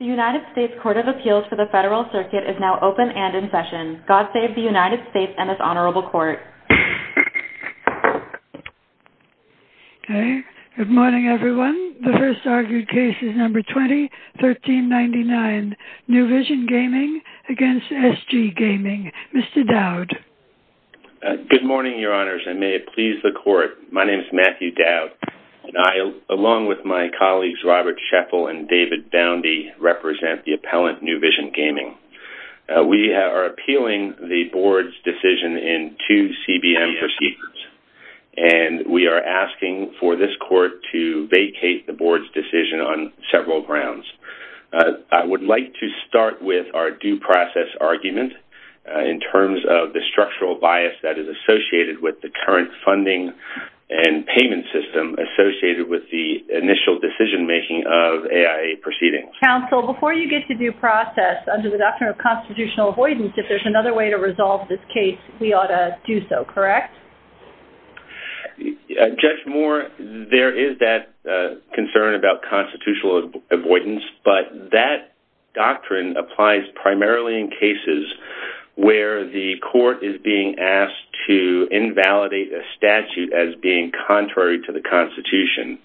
The United States Court of Appeals for the Federal Circuit is now open and in session. God save the United States and this honorable court. Okay, good morning everyone. The first argued case is number 20-1399, New Vision Gaming v. SG Gaming. Mr. Dowd. Good morning, your honors, and may it please the court. My name is Matthew Dowd, and I, along with my colleagues Robert Scheffel and David Boundy, represent the appellant, New Vision Gaming. We are appealing the board's decision in two CBM proceedings, and we are asking for this court to vacate the board's decision on several grounds. I would like to start with our due process argument in terms of the structural bias that is associated with the current funding and payment system associated with the initial decision making of AI proceedings. Counsel, before you get to due process, under the doctrine of constitutional avoidance, if there's another way to resolve this case, we ought to do so, correct? Judge Moore, there is that concern about constitutional avoidance, but that doctrine applies primarily in cases where the court is being asked to invalidate a statute as being contrary to the Constitution.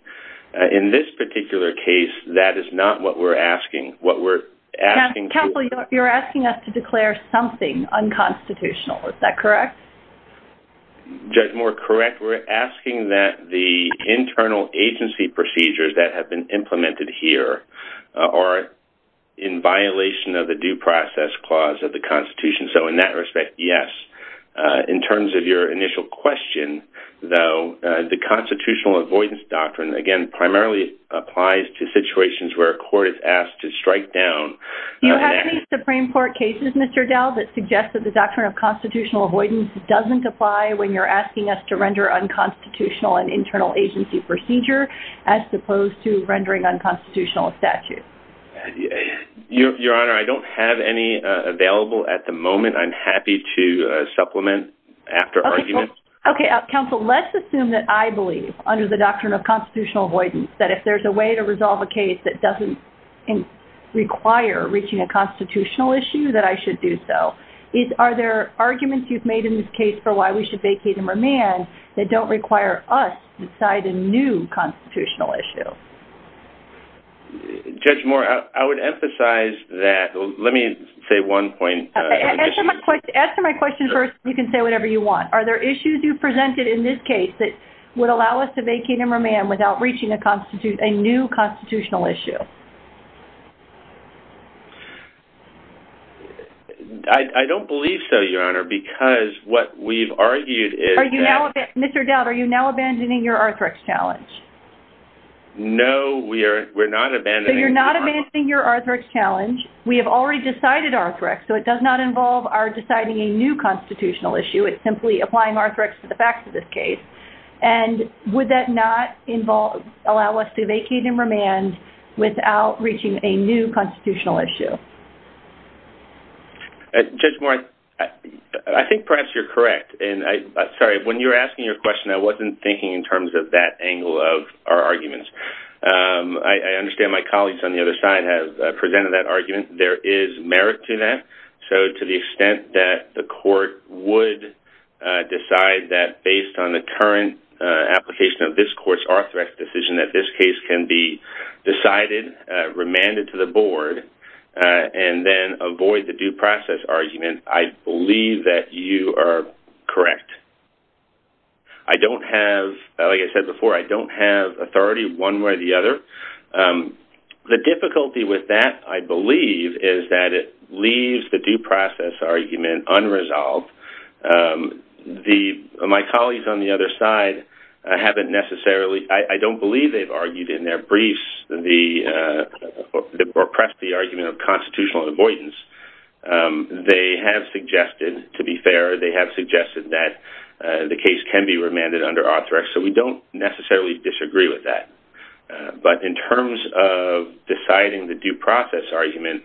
In this particular case, that is not what we're asking. Counsel, you're asking us to declare something unconstitutional, is that correct? Judge Moore, correct. We're asking that the internal agency procedures that have been the due process clause of the Constitution, so in that respect, yes. In terms of your initial question, though, the constitutional avoidance doctrine, again, primarily applies to situations where a court is asked to strike down... You have any Supreme Court cases, Mr. Dow, that suggest that the doctrine of constitutional avoidance doesn't apply when you're asking us to render unconstitutional an internal agency procedure as opposed to rendering unconstitutional a statute? Your Honor, I don't have any available at the moment. I'm happy to supplement after argument. Okay. Counsel, let's assume that I believe, under the doctrine of constitutional avoidance, that if there's a way to resolve a case that doesn't require reaching a constitutional issue, that I should do so. Are there arguments you've made in this case for why we should vacate and remand that don't require us to decide a new constitutional issue? Judge Moore, I would emphasize that... Let me say one point. Answer my question first, and you can say whatever you want. Are there issues you've presented in this case that would allow us to vacate and remand without reaching a new constitutional issue? I don't believe so, Your Honor, because what we've argued is that... Are you now... Mr. Dow, are you now abandoning your Arthrex challenge? No, we are not abandoning... So you're not abandoning your Arthrex challenge. We have already decided Arthrex, so it does not involve our deciding a new constitutional issue. It's simply applying Arthrex to the facts of this case. Would that not allow us to vacate and remand without reaching a new constitutional issue? Judge Moore, I think perhaps you're correct. Sorry, when you were asking your question, I wasn't thinking in terms of that angle of our arguments. I understand my colleagues on the other side have presented that argument. There is merit to that. So to the extent that the court would decide that, based on the current application of this court's Arthrex decision, that this case can be decided, remanded to the board, and then avoid the due process argument, I believe that you are correct. I don't have... Like I said before, I don't have authority one way or the other. The difficulty with that, I believe, is that it leaves the due process argument unresolved. My colleagues on the other side haven't necessarily... I don't believe they've argued in their briefs the... or pressed the argument of constitutional avoidance. They have suggested, to be fair, they have suggested that the case can be remanded under Arthrex. So we don't necessarily disagree with that. But in terms of deciding the due process argument,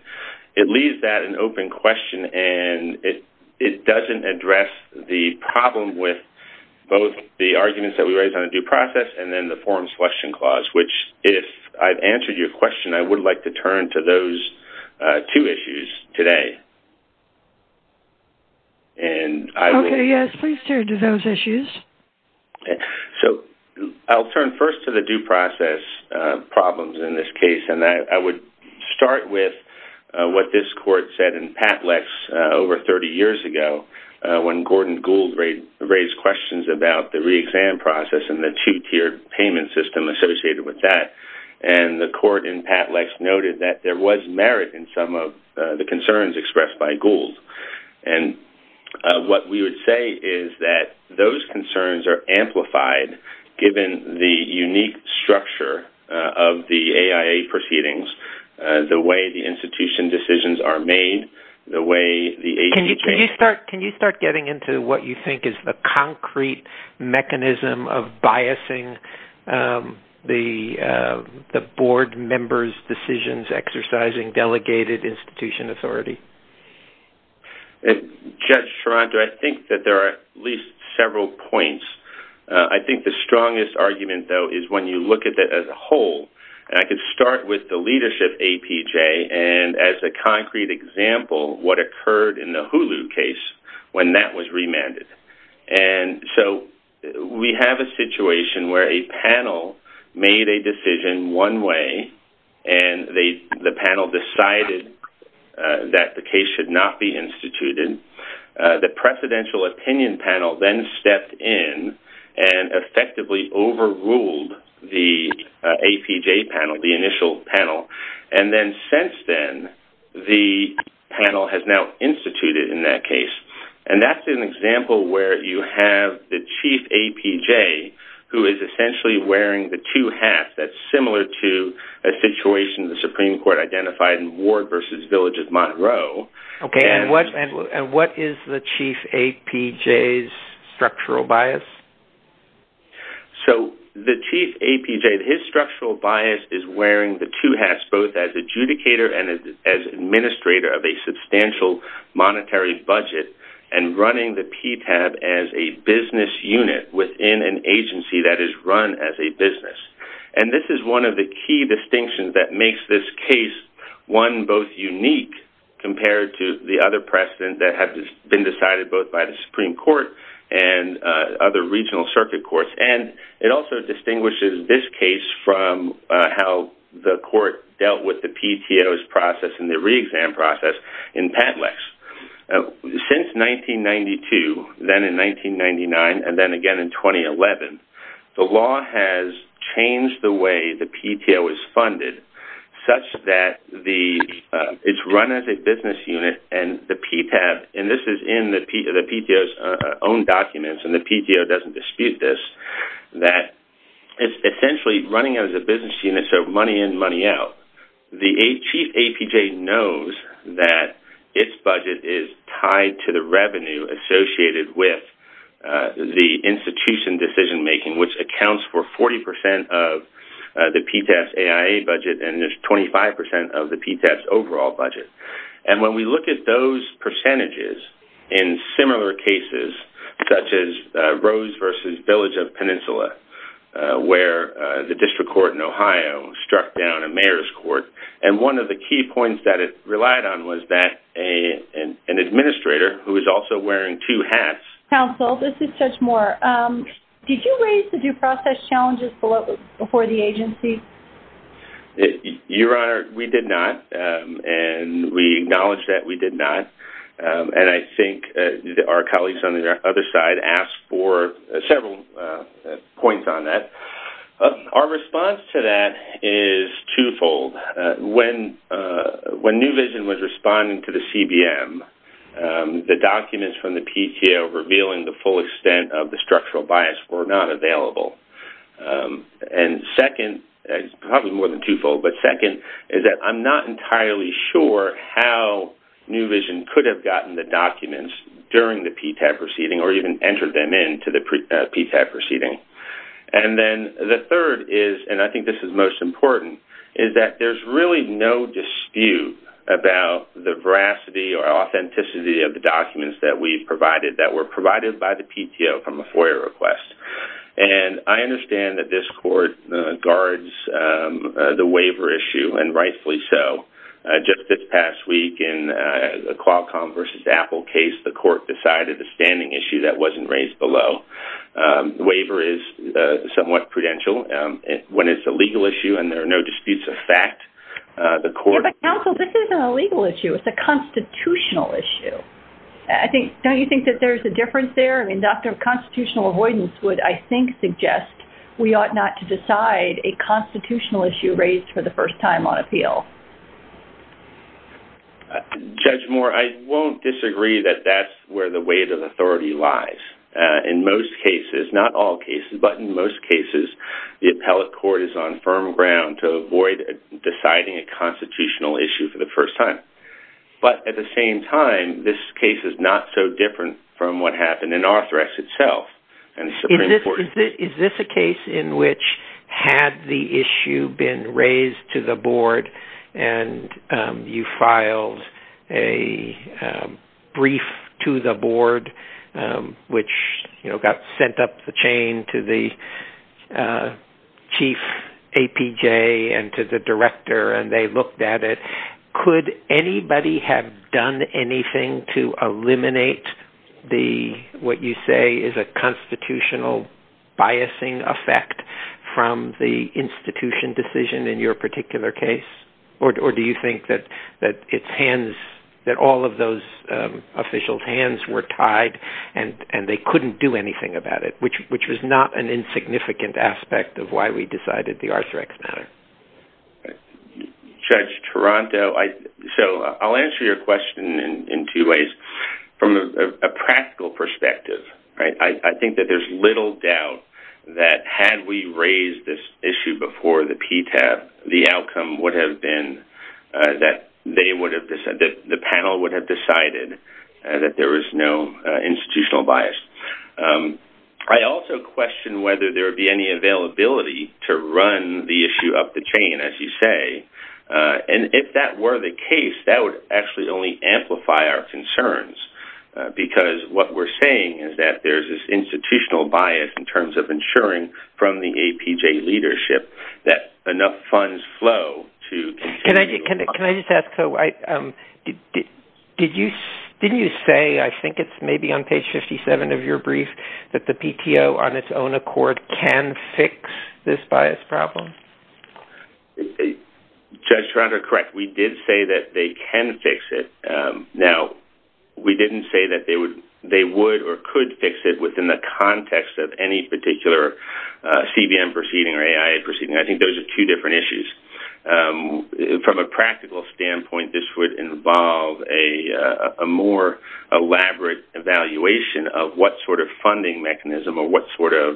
it leaves that an open question, and it doesn't address the problem with both the arguments that we raised on the due process and then the forms question clause, which, if I've answered your question, I would like to turn to those two issues today. And I will... Okay, yes. Please turn to those issues. So I'll turn first to the due process problems in this case, and I would start with what this court said in PAPLEX over 30 years ago, when Gordon Gould raised questions about the noted that there was merit in some of the concerns expressed by Gould. And what we would say is that those concerns are amplified, given the unique structure of the AIA proceedings, the way the institution decisions are made, the way the... Can you start getting into what you think is the concrete mechanism of biasing the board members' decisions exercising delegated institution authority? And Judge Sharonda, I think that there are at least several points. I think the strongest argument, though, is when you look at that as a whole. And I could start with the leadership APJ, and as a concrete example, what occurred in the Hulu case when that was remanded. And so we have a situation where a panel made a decision one way, and the panel decided that the case should not be instituted. The presidential opinion panel then stepped in and effectively overruled the APJ panel, the initial panel. And then since then, the panel has now instituted in that case. And that's an example where you have the chief APJ, who is essentially wearing the two hats. That's similar to a situation the Supreme Court identified in Ward v. Village of Monroe. Okay. And what is the chief APJ's structural bias? So the chief APJ, his structural bias is wearing the two hats, both as adjudicator and as running the PTAB as a business unit within an agency that is run as a business. And this is one of the key distinctions that makes this case one both unique compared to the other precedent that has been decided both by the Supreme Court and other regional circuit courts. And it also distinguishes this case from how the court dealt with the PTO's process and the re-exam process in PADLEX. Since 1992, then in 1999, and then again in 2011, the law has changed the way the PTO is funded such that it's run as a business unit and the PTAB, and this is in the PTO's own documents, and the PTO doesn't dispute this, that it's essentially running as a business unit, so money in, money out. The chief APJ knows that its budget is tied to the revenue associated with the institution decision-making, which accounts for 40% of the PTAB's AIA budget and there's 25% of the PTAB's overall budget. And when we look at those percentages in similar cases, such as Rose v. Village of Peninsula, where the district court in Ohio struck down a mayor's court, and one of the key points that it relied on was that an administrator who was also wearing two hats... Counsel, this is Judge Moore. Did you raise the due process challenges before the agency? Your Honor, we did not, and we acknowledge that we did not. And I think our colleagues on the other side asked for several points on that. Our response to that is twofold. When New Vision was responding to the CBM, the documents from the PTO revealing the full extent of the structural bias were not available. And second, probably more than twofold, but second is that I'm not entirely sure how New Vision could have gotten the documents during the PTAB proceeding or even entered them into the PTAB proceeding. And then the third is, and I think this is most important, is that there's really no dispute about the veracity or authenticity of the documents that we've provided that were provided by the PTO from a FOIA request. And I understand that this court guards the waiver issue, and rightfully so. Just this past week in the Qualcomm versus Apple case, the court decided a standing issue that wasn't raised below. The waiver is somewhat prudential. When it's a legal issue and there are no disputes of fact, the court... But Counsel, this isn't a legal issue. It's a constitutional issue. Don't you think that there's a difference there? I mean, constitutional avoidance would, I think, suggest we ought not to decide a constitutional issue raised for the first time on appeal. Judge Moore, I won't disagree that that's where the weight of authority lies. In most cases, not all cases, but in most cases, the appellate court is on firm ground to avoid deciding a constitutional issue for the first time. But at the same time, this case is not so different from what happened in Arthrex itself. Is this a case in which had the issue been raised to the board and you filed a brief to the board, which got sent up the chain to the chief APJ and to the director and they looked at it, could anybody have done anything to eliminate what you say is a constitutional biasing effect from the institution decision in your particular case? Or do you think that all of those officials' hands were tied and they couldn't do anything about it, which was not an insignificant aspect of why we decided the Arthrex matter? Judge Taranto, I'll answer your question in two ways. From a practical perspective, I think that there's little doubt that had we raised this issue before the PTAP, the outcome would have been that the panel would have decided that there was no institutional bias. I also question whether there would be any availability to run the issue up the chain, as you say. And if that were the case, that would actually only amplify our concerns, because what we're saying is that there's this institutional bias in terms of ensuring from the APJ leadership that enough funds flow to continue. Can I just ask, didn't you say, I think it's maybe on page 57 of your brief, that the PTO on its own accord can fix this bias problem? Judge Taranto, correct. We did say that they can fix it. Now, we didn't say that they would or could fix it within the context of any particular CBM proceeding or AI proceeding. I think those are two different issues. From a practical standpoint, this would involve a more elaborate evaluation of what sort of funding mechanism or what sort of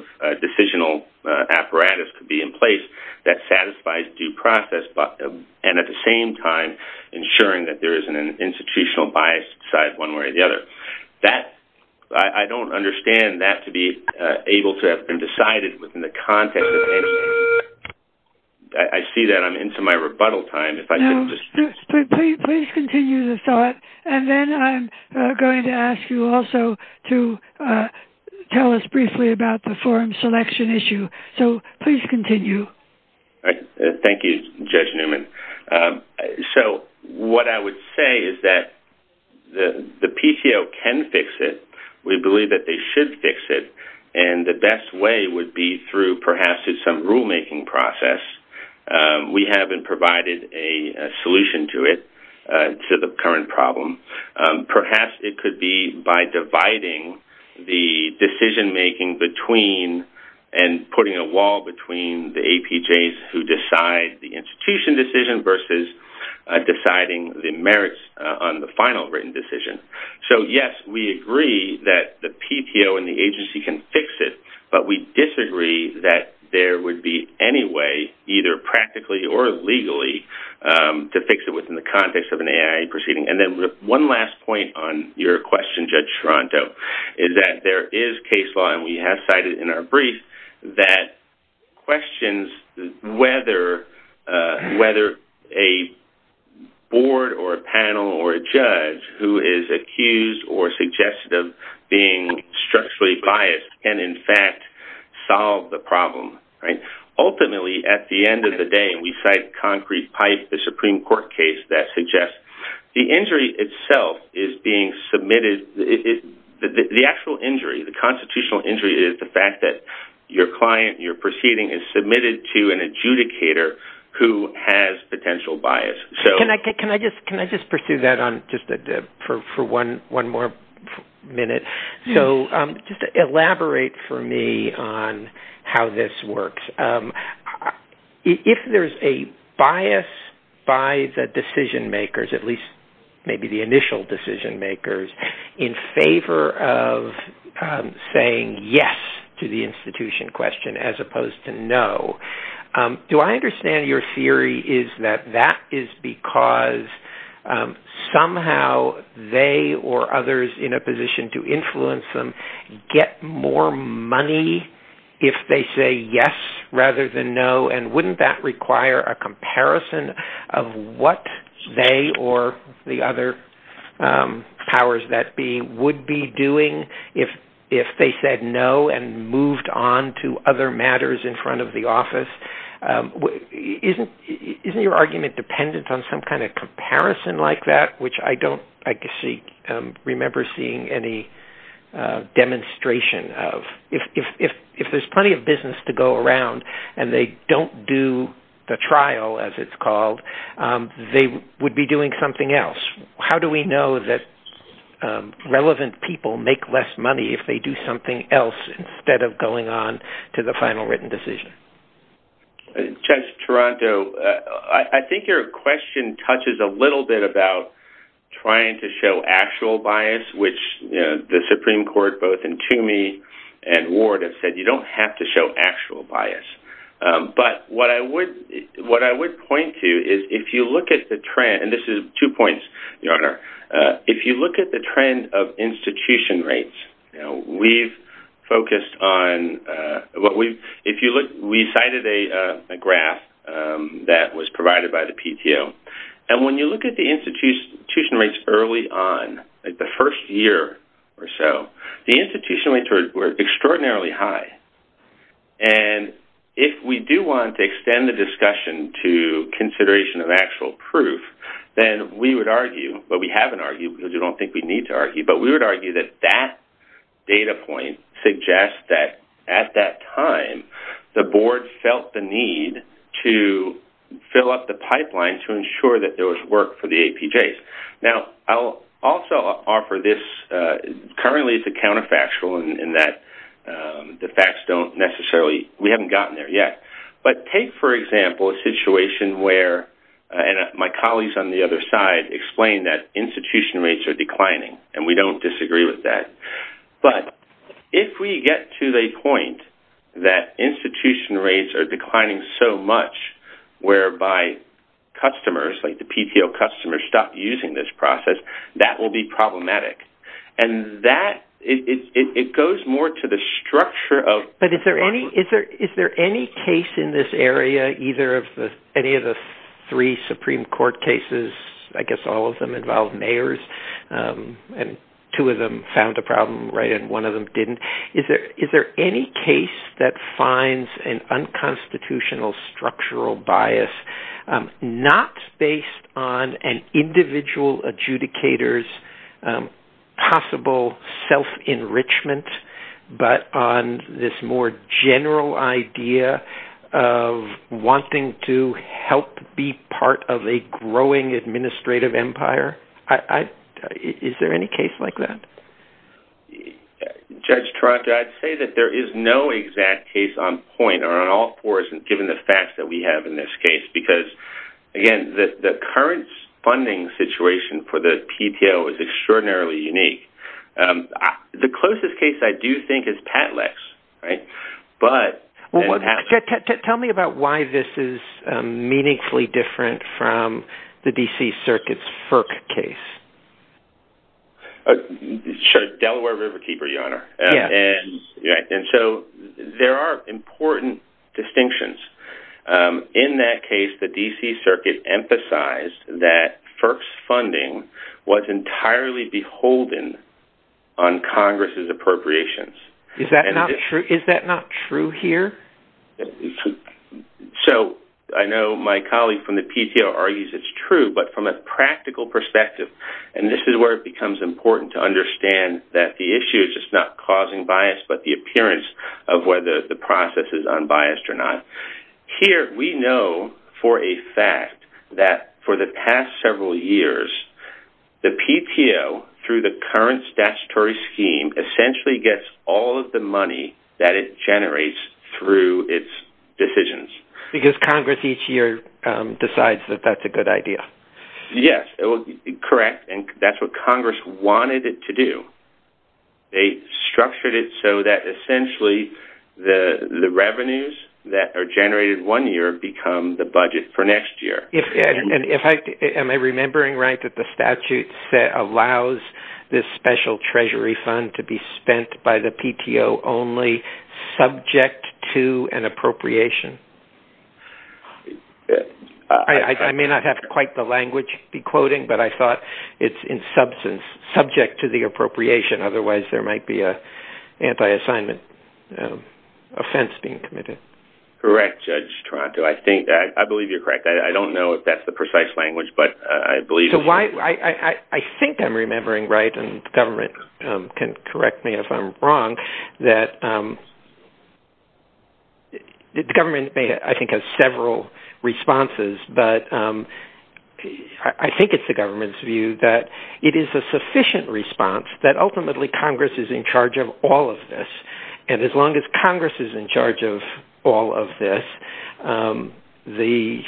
process, and at the same time, ensuring that there isn't an institutional bias side one way or the other. I don't understand that to be able to have been decided within the context of anything. I see that I'm into my rebuttal time. Now, please continue the thought, and then I'm going to ask you also to tell us briefly about the forum selection issue. So, please continue. All right. Thank you, Judge Newman. So, what I would say is that the PTO can fix it. We believe that they should fix it, and the best way would be through perhaps some rulemaking process. We haven't provided a solution to it, to the current problem. Perhaps it could be by dividing the decision-making between and putting a wall between the APJs who decide the institution decision versus deciding the merits on the final written decision. So, yes, we agree that the PTO and the agency can fix it, but we disagree that there would be any way, either practically or legally, to fix it within the context of an AI proceeding. And then one last point on your question, Judge Toronto, is that there is case law, and we have cited in our brief, that questions whether a board or a panel or a judge who is accused or suggested of being structurally biased can, in fact, solve the problem. Ultimately, at the end of the day, and we cite concrete pipe, the Supreme Court case that the injury itself is being submitted. The actual injury, the constitutional injury, is the fact that your client, your proceeding is submitted to an adjudicator who has potential bias. Can I just pursue that for one more minute? Just elaborate for me on how this works. I mean, if there's a bias by the decision makers, at least maybe the initial decision makers, in favor of saying yes to the institution question as opposed to no, do I understand your theory is that that is because somehow they or others in a position to influence them get more money if they say yes rather than no? And wouldn't that require a comparison of what they or the other powers that be would be doing if they said no and moved on to other matters in front of the office? Isn't your argument dependent on some kind of comparison like that, which I don't remember seeing any demonstration of? If there's plenty of business to go around and they don't do the trial, as it's called, they would be doing something else. How do we know that relevant people make less money if they do something else instead of going on to the final written decision? Judge Toronto, I think your question touches a little bit about trying to show actual bias, which the Supreme Court, both in Toomey and Ward, have said you don't have to show actual bias. But what I would point to is if you look at the trend, and this is two points, Your Honor, if you look at the trend of institution rates, we cited a graph that was provided by the PTO. And when you look at the institution rates early on, like the first year or so, the institution rates were extraordinarily high. And if we do want to extend the discussion to consideration of actual proof, then we would argue, but we haven't argued because we don't think we need to argue, but we would argue that that data point suggests that at that time, the board felt the need to fill up the pipeline to ensure that there was work for the APJs. Now, I'll also offer this, currently it's a counterfactual in that the facts don't necessarily, we haven't gotten there yet. But take, for example, a situation where, and my colleagues on the other side explained that institution rates are declining, and we don't disagree with that. But if we get to the point that institution rates are declining so much whereby customers, like the PTO customers, stop using this process, that will be problematic. And that, it goes more to the structure of- Is there any case in this area, either of the, any of the three Supreme Court cases, I guess all of them involve mayors, and two of them found a problem, right? And one of them didn't. Is there any case that finds an unconstitutional structural bias, not based on an individual adjudicator's possible self-enrichment, but on this more general idea of wanting to help be part of a growing administrative empire? Is there any case like that? Judge Trotka, I'd say that there is no exact case on point or on all fours, given the facts that we have in this case, because, again, the current funding situation for the PTO is extraordinarily unique. The closest case I do think is Patlex, right? But- Tell me about why this is meaningfully different from the D.C. Circuit's FERC case. Sure. Delaware Riverkeeper, Your Honor. And so, there are important distinctions. In that case, the D.C. Circuit emphasized that FERC's funding was entirely beholden on Congress's appropriations. Is that not true? Is that not true here? So, I know my colleague from the PTO argues it's true, but from a practical perspective, and this is where it becomes important to understand that the issue is just not causing bias, but the appearance of whether the process is unbiased or not. Here, we know for a fact that for the past several years, the PTO, through the current statutory scheme, essentially gets all of the money that it generates through its decisions. Because Congress each year decides that that's a good idea. Yes. Correct. And that's what Congress wanted it to do. They structured it so that essentially the revenues that are generated one year become the budget for next year. Am I remembering right that the statute allows this special treasury fund to be spent by the PTO only subject to an appropriation? I may not have quite the language to be quoting, but I thought it's in substance subject to the appropriation. Otherwise, there might be an anti-assignment offense being committed. Correct, Judge Toronto. I believe you're correct. I don't know if that's the precise language, but I believe... So, I think I'm remembering right, and the government can correct me if I'm wrong, that the government, I think, has several responses, but I think it's the government's view that it is a sufficient response that ultimately Congress is in charge of all of this. And as long as Congress is in charge of all of this, the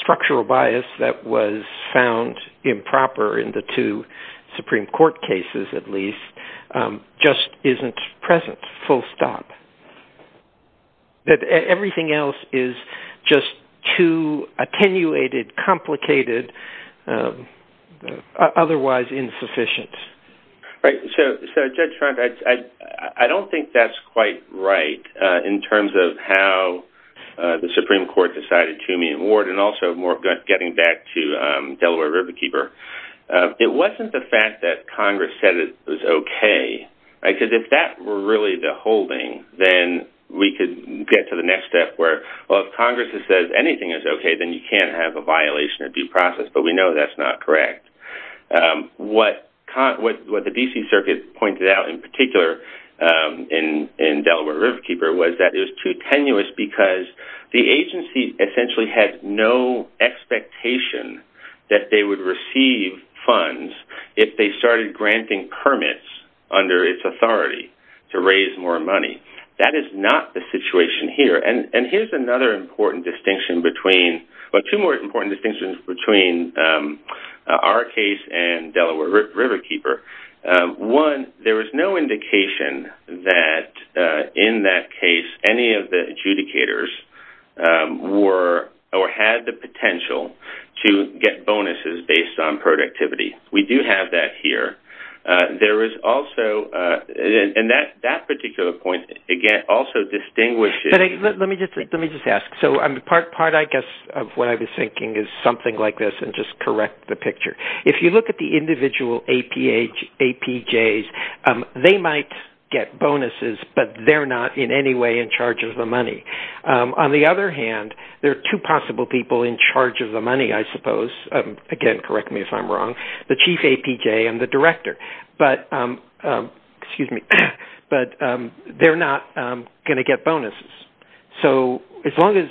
structural bias that was found improper in the two Supreme Court cases, at least, just isn't present, full stop. That everything else is just too attenuated, complicated, otherwise insufficient. Right. So, Judge Toronto, I don't think that's quite right in terms of how the Supreme Court decided to meet Ward, and also more getting back to Delaware Riverkeeper. It wasn't the fact that Congress said it was okay. I said, if that were really the holding, then we could get to the next step where, well, if Congress says anything is okay, then you can't have a violation of due process, but we know that's not correct. What the D.C. Circuit pointed out in particular in Delaware Riverkeeper was that it was too tenuous because the agency essentially had no expectation that they would receive funds if they started granting permits under its authority to raise more money. That is not the situation here. And here's another important distinction between, well, two more important our case and Delaware Riverkeeper. One, there was no indication that in that case, any of the adjudicators were or had the potential to get bonuses based on productivity. We do have that here. There is also, and that particular point, again, also distinguishes... Let me just ask. So, part, I guess, of what I was thinking is something like this, just correct the picture. If you look at the individual APJs, they might get bonuses, but they're not in any way in charge of the money. On the other hand, there are two possible people in charge of the money, I suppose, again, correct me if I'm wrong, the chief APJ and the director, but they're not going to get bonuses. So, as long as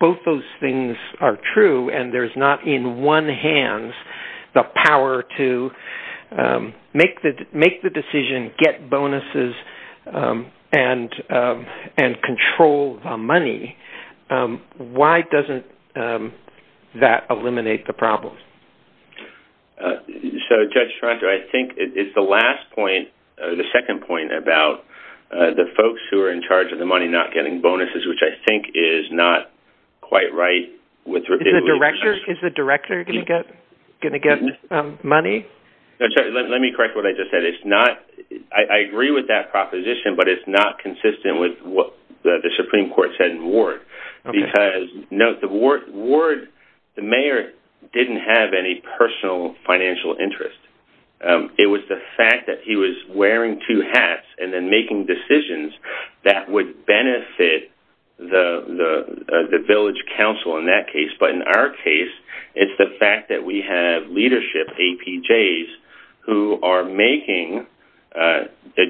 both those things are true and there's not in one hand the power to make the decision, get bonuses, and control the money, why doesn't that eliminate the problem? So, Judge Toronto, I think it's the last point, the second point about the folks who are in charge of the money not getting bonuses, which I think is not quite right with... Is the director going to get money? Let me correct what I just said. It's not... I agree with that proposition, but it's not consistent with what the Supreme Court said in Ward because, note, the Ward, the mayor didn't have any personal financial interest. It was the fact that he was wearing two hats and then making decisions that would benefit the village council in that case. But, in our case, it's the fact that we have leadership APJs who are making the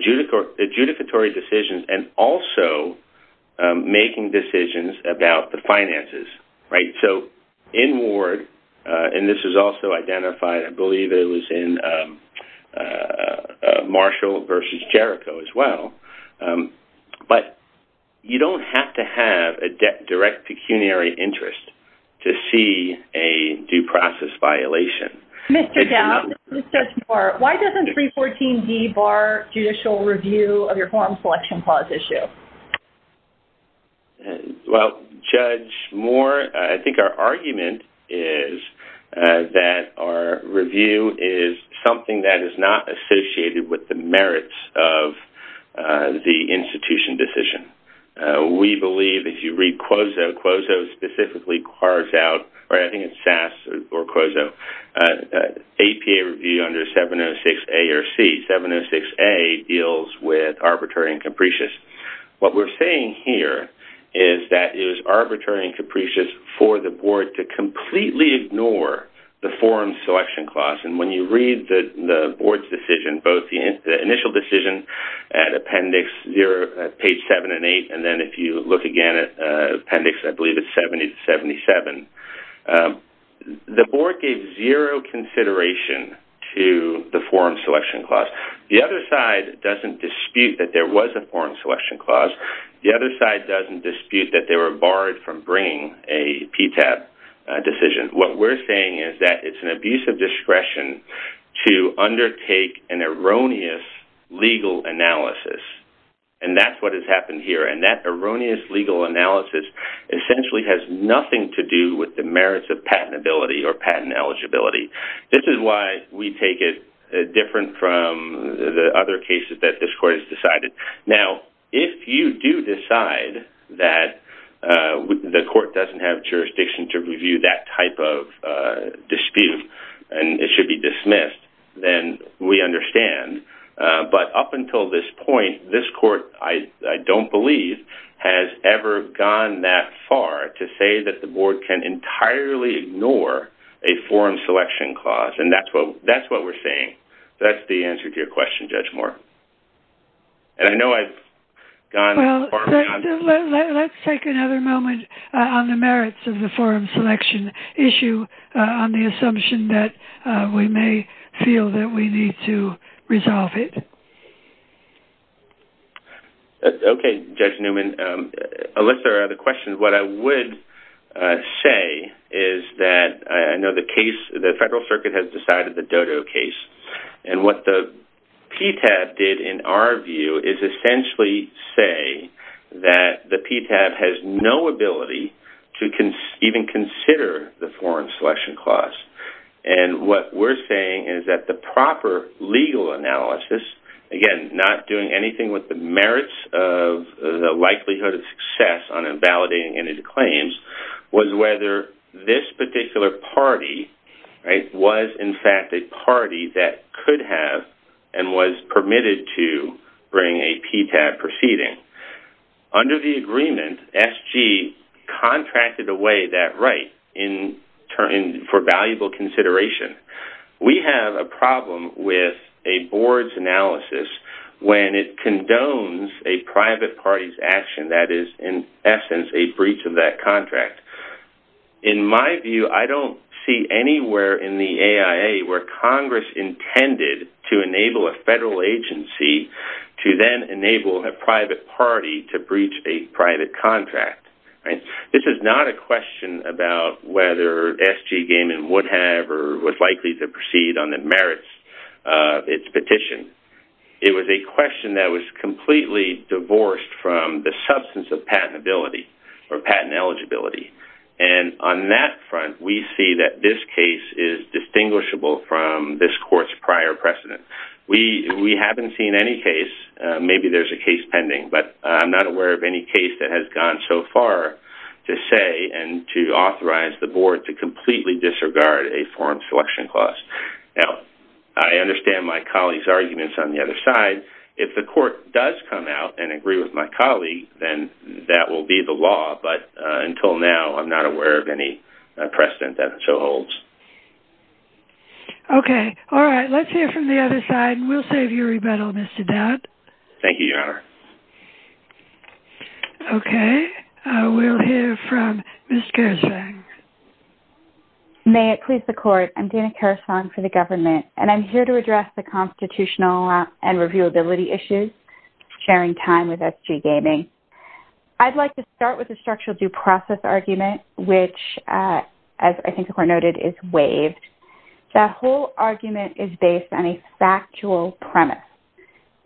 judicatory decisions and also making decisions about the finances. So, in Ward, and this is also identified, I believe it was in Marshall versus Jericho as well, but you don't have to have a direct pecuniary interest to see a due process violation. Mr. Dowd, this is Judge Moore, why doesn't 314D bar judicial review of your form selection clause issue? Well, Judge Moore, I think our argument is that our review is something that is not associated with the merits of the institution decision. We believe, if you read QOZO, QOZO specifically carves out, or I think it's SAS or QOZO, APA review under 706A or C. 706A deals with arbitrary and capricious. What we're saying here is that it is arbitrary and capricious for the board to completely ignore the forum selection clause. And when you read the board's decision, both the initial decision at appendix zero, page seven and eight, and then if you look again at appendix, I believe it's 77, the board gave zero consideration to the forum selection clause. The other side doesn't dispute that there was a forum selection clause. The other side doesn't dispute that they were barred from bringing a PTAP decision. What we're saying is that it's an abuse of discretion to undertake an erroneous legal analysis. And that's what has happened here. And that erroneous legal analysis essentially has nothing to do with the merits of patentability or the other cases that this court has decided. Now, if you do decide that the court doesn't have jurisdiction to review that type of dispute, and it should be dismissed, then we understand. But up until this point, this court, I don't believe, has ever gone that far to say that the board can entirely ignore a forum selection clause. And that's what we're saying. That's the answer to your question, Judge Moore. And I know I've gone... Well, let's take another moment on the merits of the forum selection issue on the assumption that we may feel that we need to resolve it. Okay, Judge Newman. Alissa, the question, what I would say is that I know the case, the federal circuit has decided the DODO case. And what the PTAP did, in our view, is essentially say that the PTAP has no ability to even consider the forum selection clause. And what we're saying is that the proper legal analysis, again, not doing anything with the merits of the likelihood of success on invalidating any claims, was whether this particular party was, in fact, a party that could have and was permitted to bring a PTAP proceeding. Under the agreement, SG contracted away that right for valuable consideration. We have a problem with a board's analysis when it condones a private party's action that is, in essence, a breach of that contract. In my view, I don't see anywhere in the AIA where Congress intended to enable a federal agency to then enable a private party to breach a private contract. This is not a question about whether SG Gaiman would have or was likely to proceed on the merits of its petition. It was a question that was completely divorced from the substance of patentability or patent eligibility. And on that front, we see that this case is distinguishable from this court's prior precedent. We haven't seen any case, maybe there's a case pending, but I'm not aware of any case that has gone so far to say and to authorize the board to completely disregard a forum selection clause. Now, I understand my colleague, then that will be the law, but until now, I'm not aware of any precedent that so holds. Okay. All right. Let's hear from the other side. We'll save you a rebuttal, Mr. Dodd. Thank you, Your Honor. Okay. We'll hear from Ms. Karasvang. May it please the court. I'm Dana Karasvang for the government, and I'm here to address the constitutional and reviewability issues, sharing time with SG Gaiman. I'd like to start with the structural due process argument, which, as I think the court noted, is waived. That whole argument is based on a factual premise,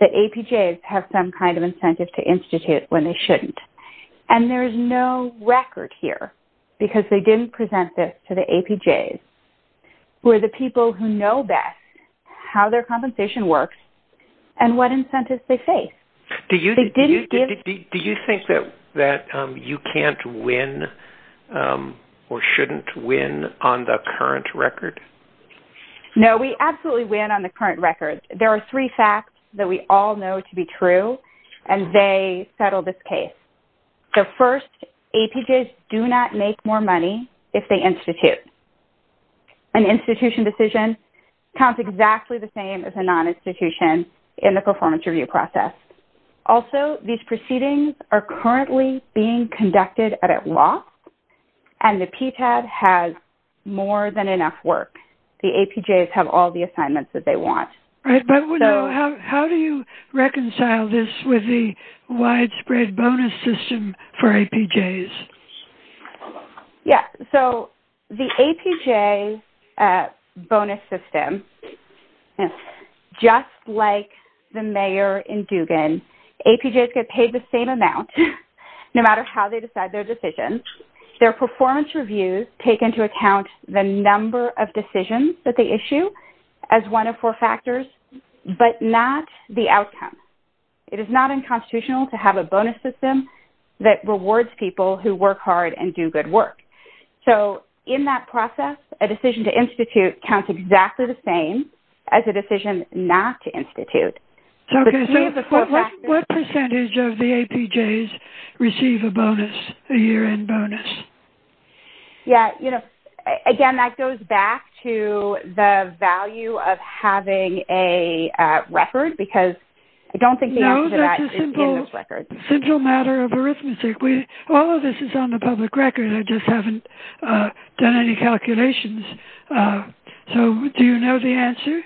that APJs have some kind of incentive to institute when they shouldn't. And there's no record here, because they didn't present this to APJs, who are the people who know best how their compensation works and what incentives they face. Do you think that you can't win or shouldn't win on the current record? No, we absolutely win on the current record. There are three facts that we all know to be true, and they settle this case. The first, APJs do not make more money if they institute. An institution decision counts exactly the same as a non-institution in the performance review process. Also, these proceedings are currently being conducted at a loss, and the PTAD has more than enough work. The APJs have all the assignments that they want. Right, but how do you reconcile this with the widespread bonus system for APJs? Yeah, so the APJ bonus system, just like the mayor in Dugan, APJs get paid the same amount, no matter how they decide their decision. Their performance reviews take into account the number of decisions that they issue as one of four factors, but not the outcome. It is not unconstitutional to have a bonus system that rewards people who work hard and do good work. In that process, a decision to institute counts exactly the same as a decision not to institute. What percentage of the APJs receive a bonus, a year-end bonus? Yeah, you know, again, that goes back to the value of having a record, because I don't think the answer to that is in those records. No, that's a simple matter of arithmetic. All of this is on the public record. I just haven't done any calculations. So, do you know the answer?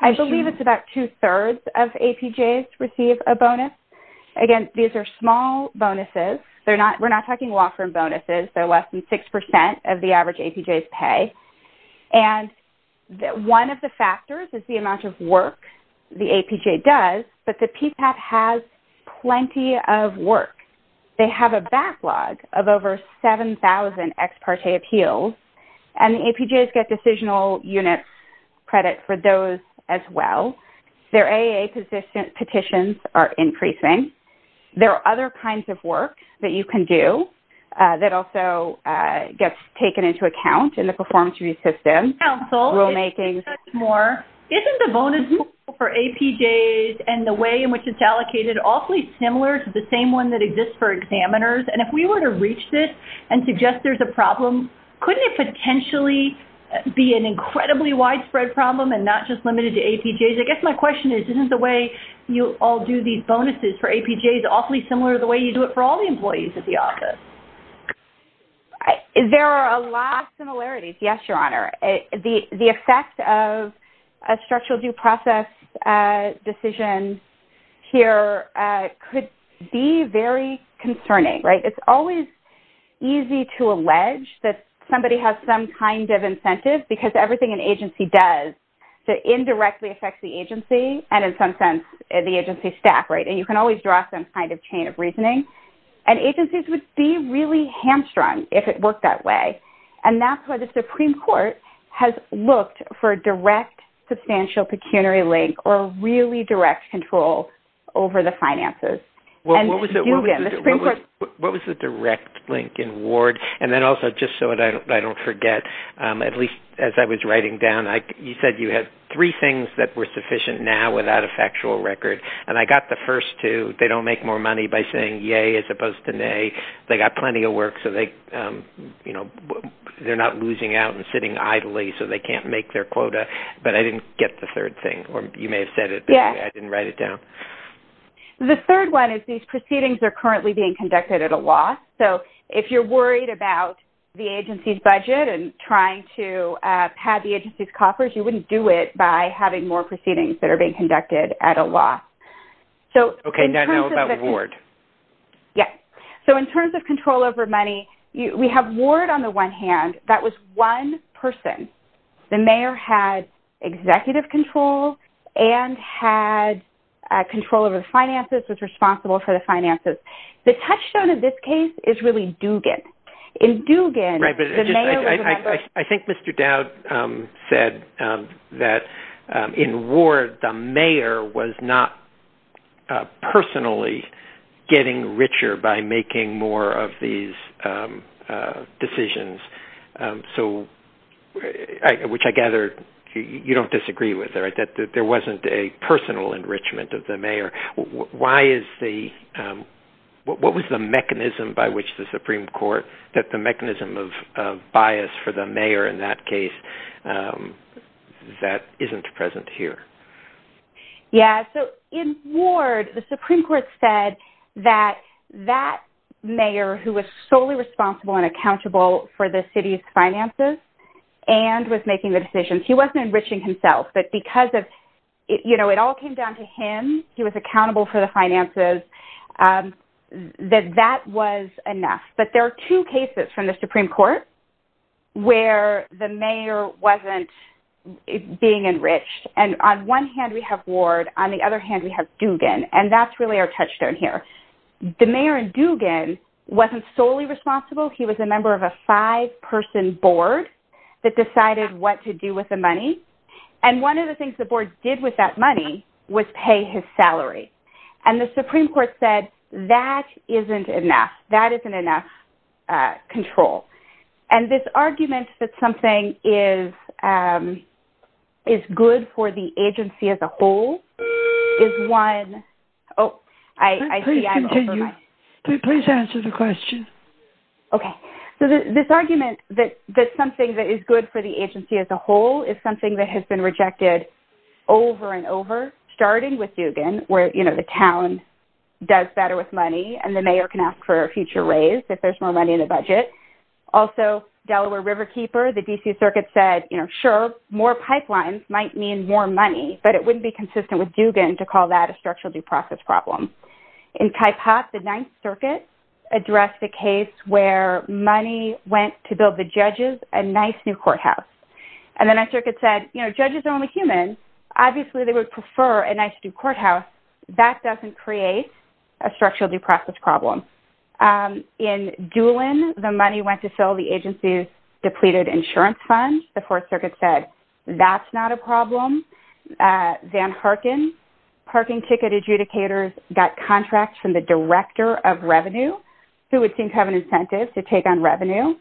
I believe it's about two-thirds of APJs receive a bonus. Again, these are small bonuses. They're less than 6% of the average APJ's pay. And one of the factors is the amount of work the APJ does, but the PPAP has plenty of work. They have a backlog of over 7,000 ex parte appeals, and the APJs get decisional unit credit for those as well. Their AA petitions are increasing. There are other kinds of work that you can do that also gets taken into account in the performance review system, rulemaking. Isn't the bonus pool for APJs and the way in which it's allocated awfully similar to the same one that exists for examiners? And if we were to reach this and suggest there's a problem, couldn't it potentially be an incredibly widespread problem and not just limited to APJs? I guess my question is, isn't the way you all do these bonuses for APJs awfully similar to the way you do it for all the employees at the office? There are a lot of similarities. Yes, Your Honor. The effect of a structural due process decision here could be very concerning. It's always easy to allege that somebody has some incentive because everything an agency does that indirectly affects the agency and in some sense, the agency staff. And you can always draw some kind of chain of reasoning. And agencies would be really hamstrung if it worked that way. And that's why the Supreme Court has looked for a direct substantial pecuniary link or really direct control over the finances. Well, what was the direct link in Ward? And then also just so I don't forget, at least as I was writing down, you said you had three things that were sufficient now without a factual record. And I got the first two. They don't make more money by saying yay as opposed to nay. They got plenty of work so they're not losing out and sitting idly so they can't make their quota. But I didn't get the third thing or you may have said it, but I didn't write it down. The third one is these proceedings are currently being conducted at a loss. So, if you're worried about the agency's budget and trying to pad the agency's coffers, you wouldn't do it by having more proceedings that are being conducted at a loss. Okay, now about Ward. Yes. So, in terms of control over money, we have Ward on the one hand, that was one person. The control over the finances was responsible for the finances. The touchstone of this case is really Dugan. In Dugan, the mayor was- I think Mr. Dowd said that in Ward, the mayor was not personally getting richer by making more of these decisions. So, which I gather you don't disagree with, that there wasn't a personal enrichment of the mayor. What was the mechanism by which the Supreme Court, that the mechanism of bias for the mayor in that case, that isn't present here? Yes. So, in Ward, the Supreme Court said that that mayor who was solely responsible and accountable for the city's finances and was making the decisions, he wasn't enriching himself, but because of, you know, it all came down to him, he was accountable for the finances, that that was enough. But there are two cases from the Supreme Court where the mayor wasn't being enriched. And on one hand, we have Ward. On the other hand, we have Dugan. And that's really our touchstone here. The mayor in Dugan wasn't solely responsible. He was a member of a five-person board that decided what to do with the money. And one of the things the board did with that money was pay his salary. And the Supreme Court said that isn't enough. That isn't enough control. And this argument that something is good for the agency as a whole is one... Oh, I see... Please continue. Please answer the question. Okay. So, this argument that something that is good for the agency as a whole is something that has been rejected over and over, starting with Dugan, where, you know, the town does better with money and the mayor can ask for a future raise if there's more money in the budget. Also, Delaware Riverkeeper, the D.C. Circuit said, you know, sure, more pipelines might mean more money, but it wouldn't be consistent with Dugan to call that a structural due process problem. In Kaipat, the Ninth Circuit addressed the case where money went to build the judges a nice new courthouse. And the Ninth Circuit said, you know, judges are only human. Obviously, they would prefer a nice new courthouse. That doesn't create a structural due process problem. In Doolin, the money went to fill the agency's depleted insurance fund. The Fourth Circuit said that's not a problem. Van Parkin, parking ticket adjudicators got contracts from the director of revenue who would think of an incentive to take on revenue.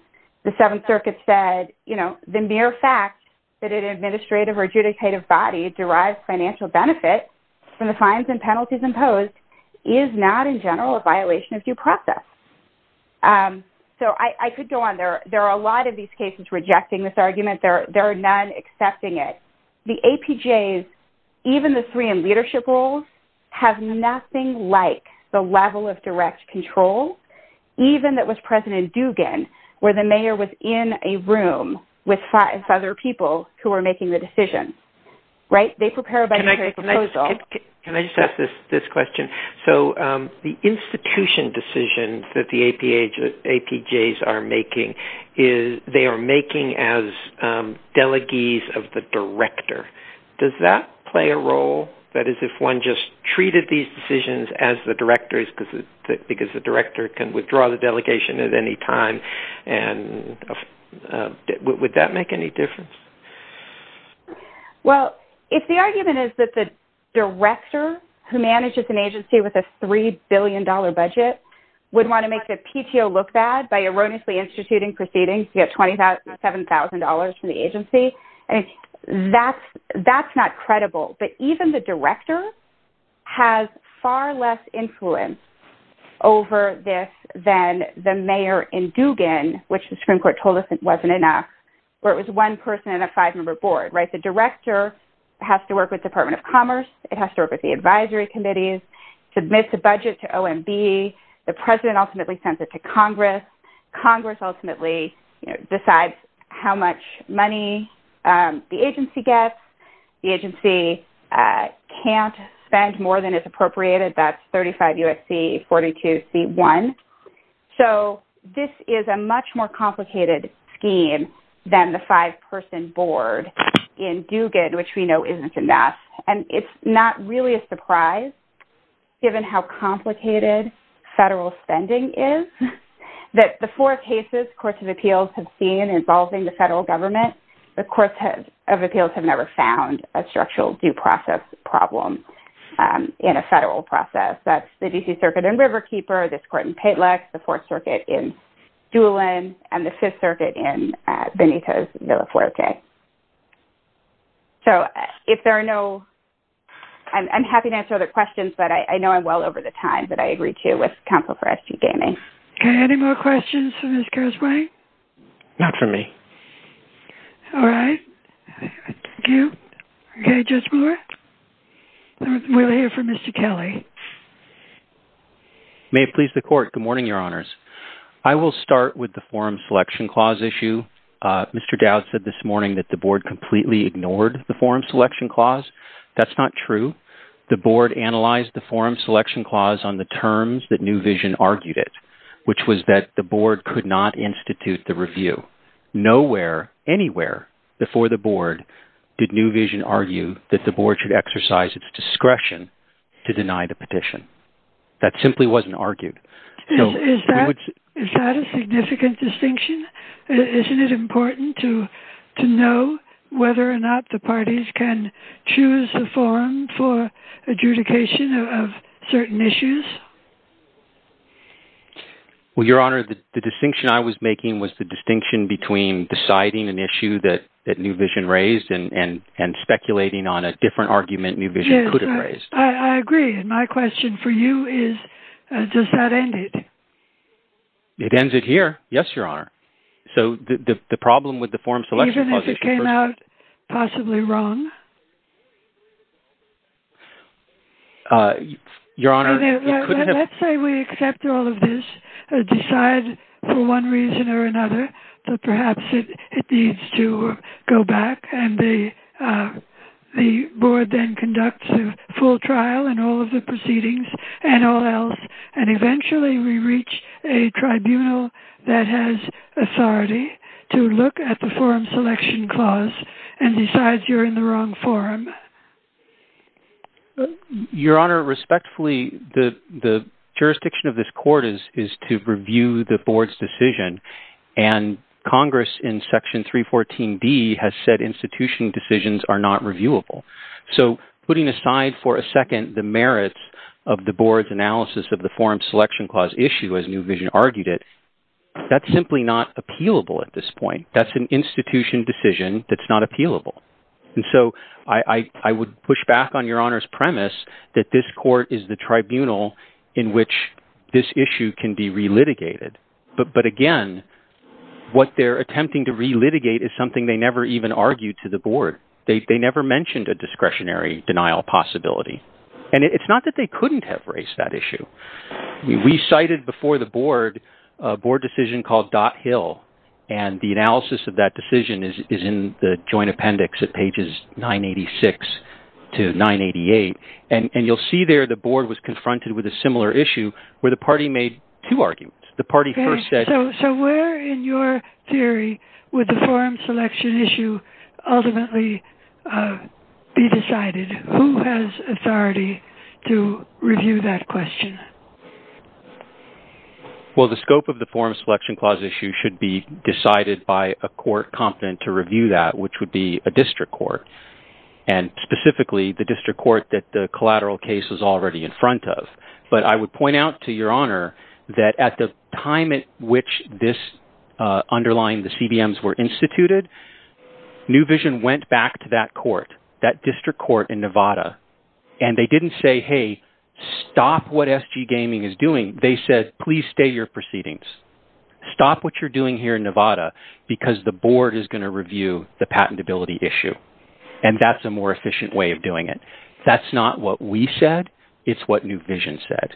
The Seventh Circuit said, you know, the mere fact that an administrative or adjudicative body derives financial benefit from the fines and penalties imposed is not, in general, a violation of due process. So, I could go on. There are a lot of these cases rejecting this argument. There are none accepting it. The APJs, even the three in leadership roles, have nothing like the level of direct control, even that was present in Dugan, where the mayor was in a room with five other people who are making the decision. Right? They prepare a budgetary proposal. Can I just ask this question? So, the institution decision that the APJs are making is they are of the director. Does that play a role? That is, if one just treated these decisions as the director because the director can withdraw the delegation at any time. Would that make any difference? Well, if the argument is that the director who manages an agency with a $3 billion budget would want to make the PTO look bad by erroneously instituting proceedings to get $27,000 from the agency, that's not credible. But even the director has far less influence over this than the mayor in Dugan, which the Supreme Court told us it wasn't enough, where it was one person and a five-member board. Right? The director has to work with Department of Commerce. It has to work with the advisory committees, submit the budget to OMB. The president ultimately sends it to Congress. Congress ultimately decides how much money the agency gets. The agency can't spend more than is appropriated. That's 35 U.S.C., 42 C.1. So, this is a much more complicated scheme than the five-person board in Dugan, which we know isn't enough. And it's not really a federal spending is, that the four cases courts of appeals have seen involving the federal government, the courts of appeals have never found a structural due process problem in a federal process. That's the D.C. Circuit in Riverkeeper, this court in Patelec, the Fourth Circuit in Doolin, and the Fifth Circuit in Benitez Villafuerte. So, if there are no... I'm happy to answer other questions, but I know I'm well over the time, but I agree, too, with counsel for S.G. Gainey. Okay. Any more questions for Ms. Gershwine? Not for me. All right. Thank you. Okay. Judge Brewer? We'll hear from Mr. Kelly. May it please the court. Good morning, Your Honors. I will start with the forum selection clause issue. Mr. Dowd said this morning that the board completely ignored the forum selection clause. That's not true. The board analyzed the forum selection clause on the terms that New Vision argued it, which was that the board could not institute the review. Nowhere, anywhere, before the board, did New Vision argue that the board should exercise its discretion to deny the petition. That simply wasn't argued. Is that a significant distinction? Isn't it to choose a forum for adjudication of certain issues? Well, Your Honor, the distinction I was making was the distinction between deciding an issue that New Vision raised and speculating on a different argument New Vision could have raised. Yes. I agree. My question for you is, does that end it? It ends it here. Yes, Your Honor. So, the problem with the forum selection clause... Is it possibly wrong? Let's say we accept all of this, decide for one reason or another that perhaps it needs to go back, and the board then conducts a full trial in all of the proceedings and all else, and eventually we reach a tribunal that has authority to look at the forum selection clause and decides you're in the wrong forum. Your Honor, respectfully, the jurisdiction of this court is to review the board's decision, and Congress in Section 314D has said institution decisions are not reviewable. So, putting aside for a second the merits of the board's analysis of the forum selection clause issue as New Vision argued it, that's simply not appealable at this point. That's an institution decision that's not appealable. And so, I would push back on Your Honor's premise that this court is the tribunal in which this issue can be re-litigated. But again, what they're attempting to re-litigate is something they never even argued to the board. They never mentioned a discretionary denial possibility. And it's not that they couldn't have raised that issue. We cited before the board a board decision called Dot Hill, and the analysis of that decision is in the joint appendix at pages 986 to 988. And you'll see there the board was confronted with a similar issue where the party made two arguments. The party first said... So, where in your theory would the forum selection issue ultimately be decided? Who has authority to review that question? Well, the scope of the forum selection clause issue should be decided by a court competent to review that, which would be a district court. And specifically, the district court that the collateral case was already in front of. But I would point out to Your Honor that at the time at which this underlying the CDMs were instituted, New Vision went back to that court, that district court in Nevada. And they didn't say, hey, stop what SG Gaming is doing. They said, please stay your proceedings. Stop what you're doing here in Nevada, because the board is going to review the patentability issue. And that's a more efficient way of doing it. That's not what we said. It's what New Vision said.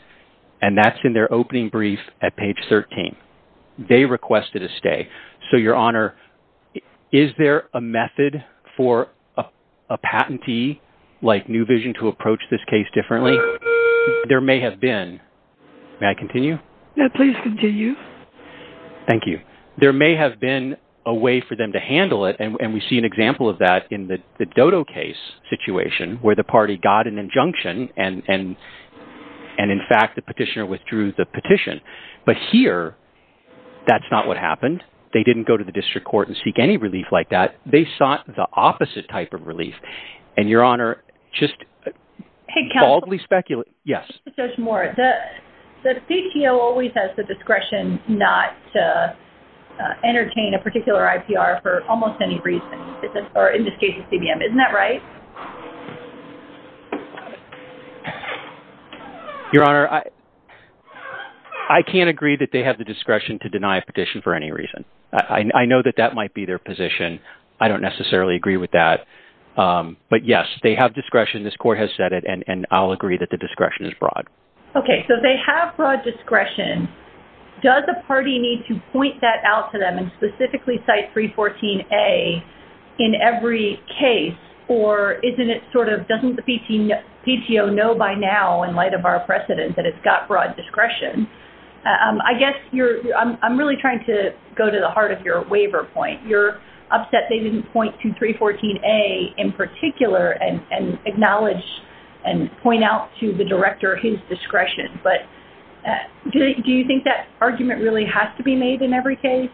And that's in their opening brief at page 13. They requested a stay. So, Your Honor, is there a method for a patentee like New Vision to approach this case differently? There may have been. May I continue? Please continue. Thank you. There may have been a way for them to handle it. And we see an example of that in the Dodo case situation, where the party got an injunction. And in fact, the petitioner withdrew the petition. But here, that's not what happened. They didn't go to the district court and seek any relief like that. They sought the opposite type of relief. And Your Honor, just boldly speculate. Yes. The CTO always has the discretion not to entertain a particular IPR for almost any reason or in this case, a CBM. Isn't that right? Your Honor, I can't agree that they have the discretion to deny a petition for any reason. I know that that might be their position. I don't necessarily agree with that. But yes, they have discretion. This court has said it. And I'll agree that the discretion is broad. Okay. So, they have broad discretion. Does the party need to point that out to them and specifically cite 314A in every case? Or doesn't the PTO know by now in light of our precedent that it's got broad discretion? I guess I'm really trying to go to the heart of your waiver point. You're upset they didn't point to 314A in particular and acknowledge and point out to the director his discretion. But do you think that argument really has to be made in every case?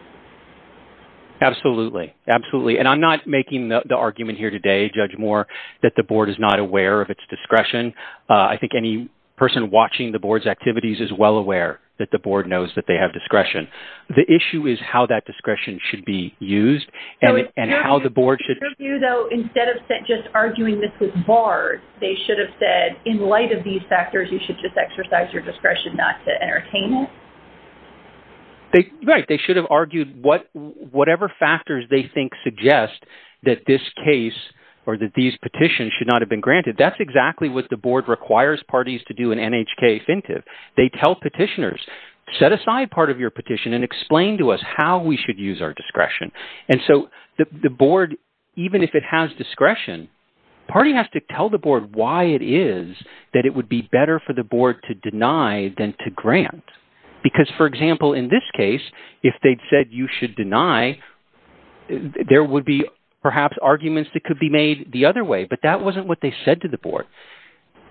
Absolutely. Absolutely. And I'm not making the argument here today, Judge Moore, that the board is not aware of its discretion. I think any person watching the board's activities is well aware that the board knows that they have discretion. The issue is how that discretion should be used and how the board should... In your view, though, instead of just arguing this with BARD, they should have said, in light of these factors, you should just exercise your discretion. Whatever factors they think suggest that this case or that these petitions should not have been granted, that's exactly what the board requires parties to do in NHK Offensive. They tell petitioners, set aside part of your petition and explain to us how we should use our discretion. And so, the board, even if it has discretion, party has to tell the board why it is that it would be better for the board to deny than to grant. Because, for example, in this case, if they'd said you should deny, there would be perhaps arguments that could be made the other way. But that wasn't what they said to the board.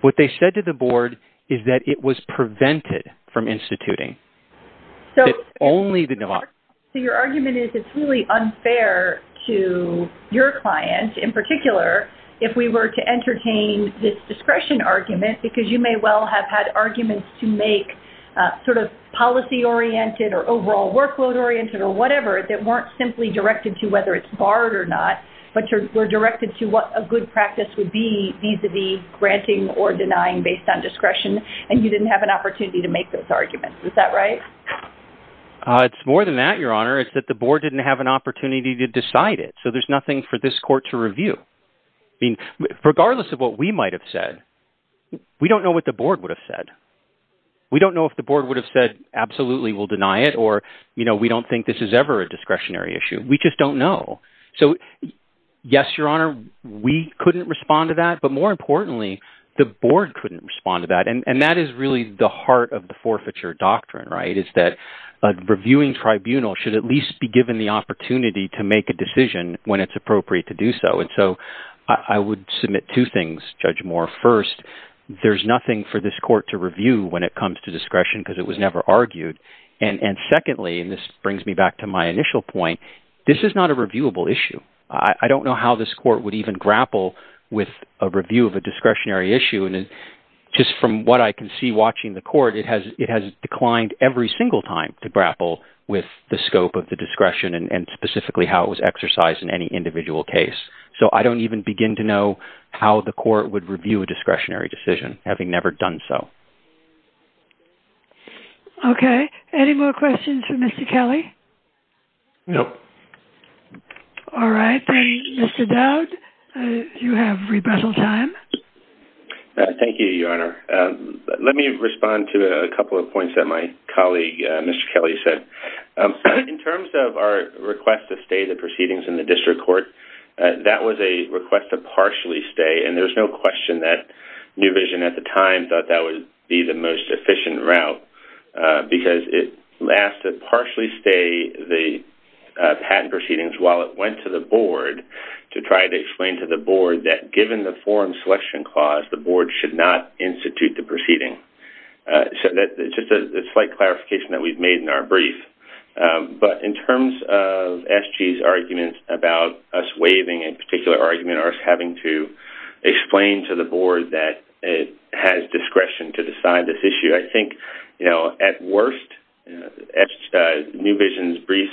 What they said to the board is that it was prevented from instituting. So, your argument is it's really unfair to your clients, in particular, if we were to entertain this discretion argument, because you may well have had arguments to make sort of policy-oriented or overall workload-oriented or whatever that weren't simply directed to whether it's BARD or not, but were directed to what a good practice would be vis-a-vis granting or denying based on discretion, and you didn't have an opportunity to make those arguments. Is that right? It's more than that, Your Honor. It's that the board didn't have an opportunity to decide it. So, there's nothing for this court to review. I mean, regardless of what we might have said, we don't know what the board would have said. We don't know if the board would have said, absolutely, we'll deny it, or, you know, we don't think this is ever a discretionary issue. We just don't know. So, yes, Your Honor, we couldn't respond to that. But more importantly, the board couldn't respond to that. And that is really the heart of the forfeiture doctrine, right, is that a reviewing tribunal should at least be given the opportunity to make a decision when it's appropriate to do so. And so, I would submit two things, Judge Moore. First, there's nothing for this court to review when it comes to discretion because it was never argued. And secondly, and this brings me back to my initial point, this is not a reviewable issue. I don't know how this court would even grapple with a review of a discretionary issue. And just from what I can see watching the court, it has declined every single time to grapple with the scope of the discretion and specifically how it was exercised in any individual case. So, I don't even begin to know how the court would review a discretionary decision, having never done so. Okay. Any more questions for Mr. Kelly? No. All right. Then, Mr. Dowd, you have rebuttal time. Thank you, Your Honor. Let me respond to a couple of points that my In terms of our request to stay the proceedings in the district court, that was a request to partially stay. And there's no question that New Vision at the time thought that would be the most efficient route because it asked to partially stay the patent proceedings while it went to the board to try to explain to the board that given the forum selection clause, the board should not institute the proceeding. So, that's just a slight clarification that we've made in our brief. But in terms of SG's argument about us waiving a particular argument or us having to explain to the board that it has discretion to decide this issue, I think, you know, at worst, New Vision's brief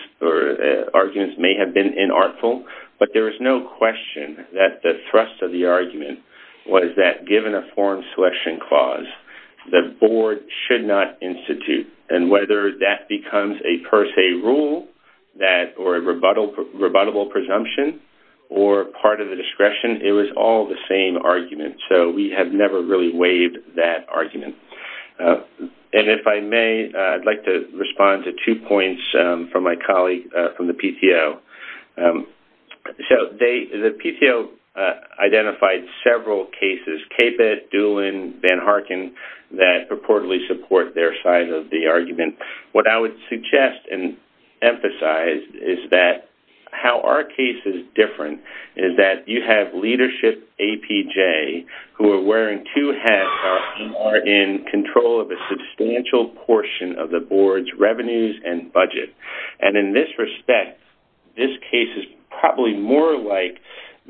arguments may have been inartful, but there is no question that the thrust of the argument was that given a forum selection clause, the board should not institute. And whether that becomes a per se rule or a rebuttable presumption or part of the discretion, it was all the same argument. So, we have never really waived that argument. And if I may, I'd like to respond to two points from my colleague from the PTO. So, the PTO identified several cases, Caput, Doolin, Van Harken, that purportedly support their side of the argument. What I would suggest and emphasize is that how our case is different is that you have leadership APJ who are wearing two hats are in control of a substantial portion of the board's revenues and budget. And in this respect, this case is probably more like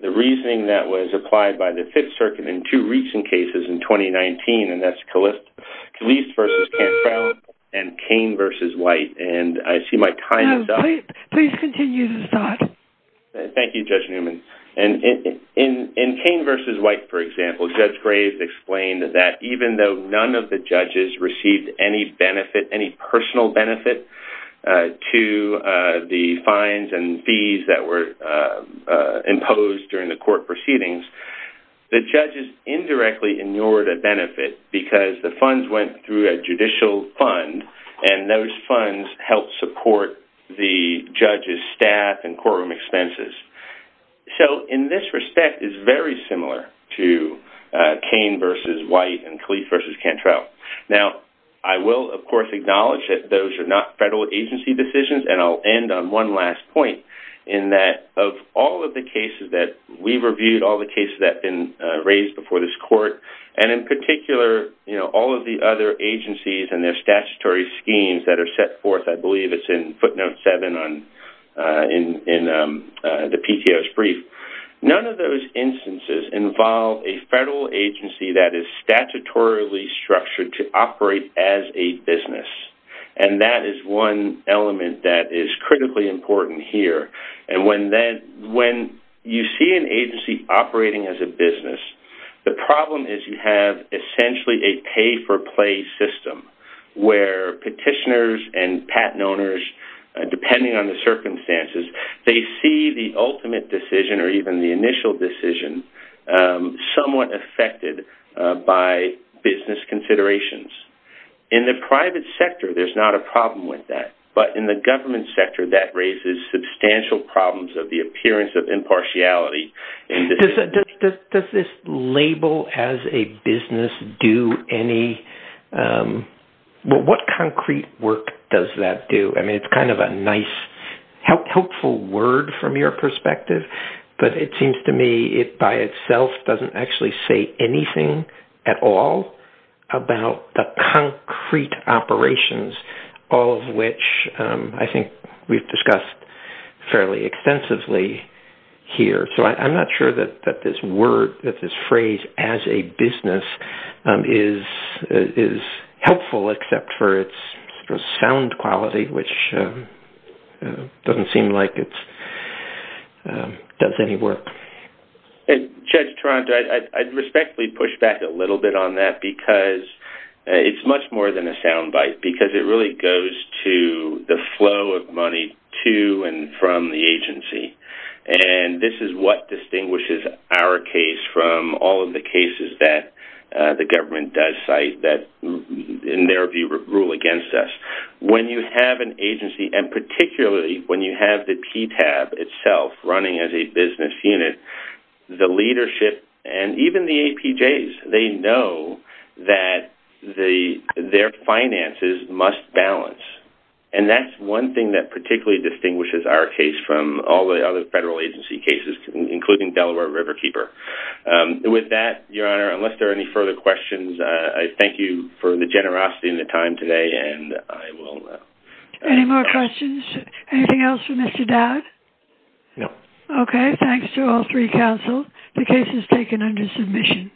the reasoning that was applied by the Fifth Circuit in two recent cases in 2019, and that's Gleas versus Cantrell and Cain versus White. And I see my time is up. No, please continue the thought. Thank you, Judge Newman. And in Cain versus White, for example, Judge Graves explained that even though none of the judges received any benefit, any personal benefit to the fines and fees that were imposed during the court proceedings, the judges indirectly ignored a benefit because the funds went through a judicial fund, and those funds helped support the judges' staff and courtroom expenses. So, in this respect, it's very similar to Cain versus White and Gleas versus Cantrell. Now, I will, of course, acknowledge that those are not federal agency decisions, and I'll end on one last point in that of all of the cases that we reviewed, all the cases that have been raised before this court, and in particular, all of the other agencies and their statutory schemes that are set forth, I believe it's in footnote 7 in the PTO's brief. None of those instances involve a federal agency that is statutorily structured to operate as a business, and that is one element that is critically important here. And when you see an agency operating as a business, the problem is you have essentially a pay-for-play system, where petitioners and patent owners, depending on the circumstances, they see the ultimate decision or even the initial decision somewhat affected by business considerations. In the private sector, there's not a problem with that, but in the government sector, that raises substantial problems of the appearance of impartiality. Does this label as a business do any... What concrete work does that do? I mean, it's kind of a nice, helpful word from your perspective, but it seems to me it by itself doesn't actually say anything at all about the concrete operations, all of which I think we've discussed fairly extensively here. So I'm not sure that this phrase, as a business, is helpful except for its sound quality, which doesn't seem like it does any work. Judge Toronto, I'd respectfully push back a little bit on that because it's much more than a soundbite, because it really goes to the flow of money to and from the agency. And this is what distinguishes our case from all of the cases that the government does cite that, in their view, rule against us. When you have an agency, and particularly when you have the PTAB itself running as a business unit, the leadership and even the APJs, they know that their finances must balance. And that's one thing that particularly distinguishes our case from all the other federal agency cases, including Delaware Riverkeeper. With that, Your Honor, unless there are any further questions, I thank you for the generosity and the time today, and I will... Any more questions? Anything else for Mr. Dowd? No. Okay. Thanks to all three counsels. The case is taken under submission.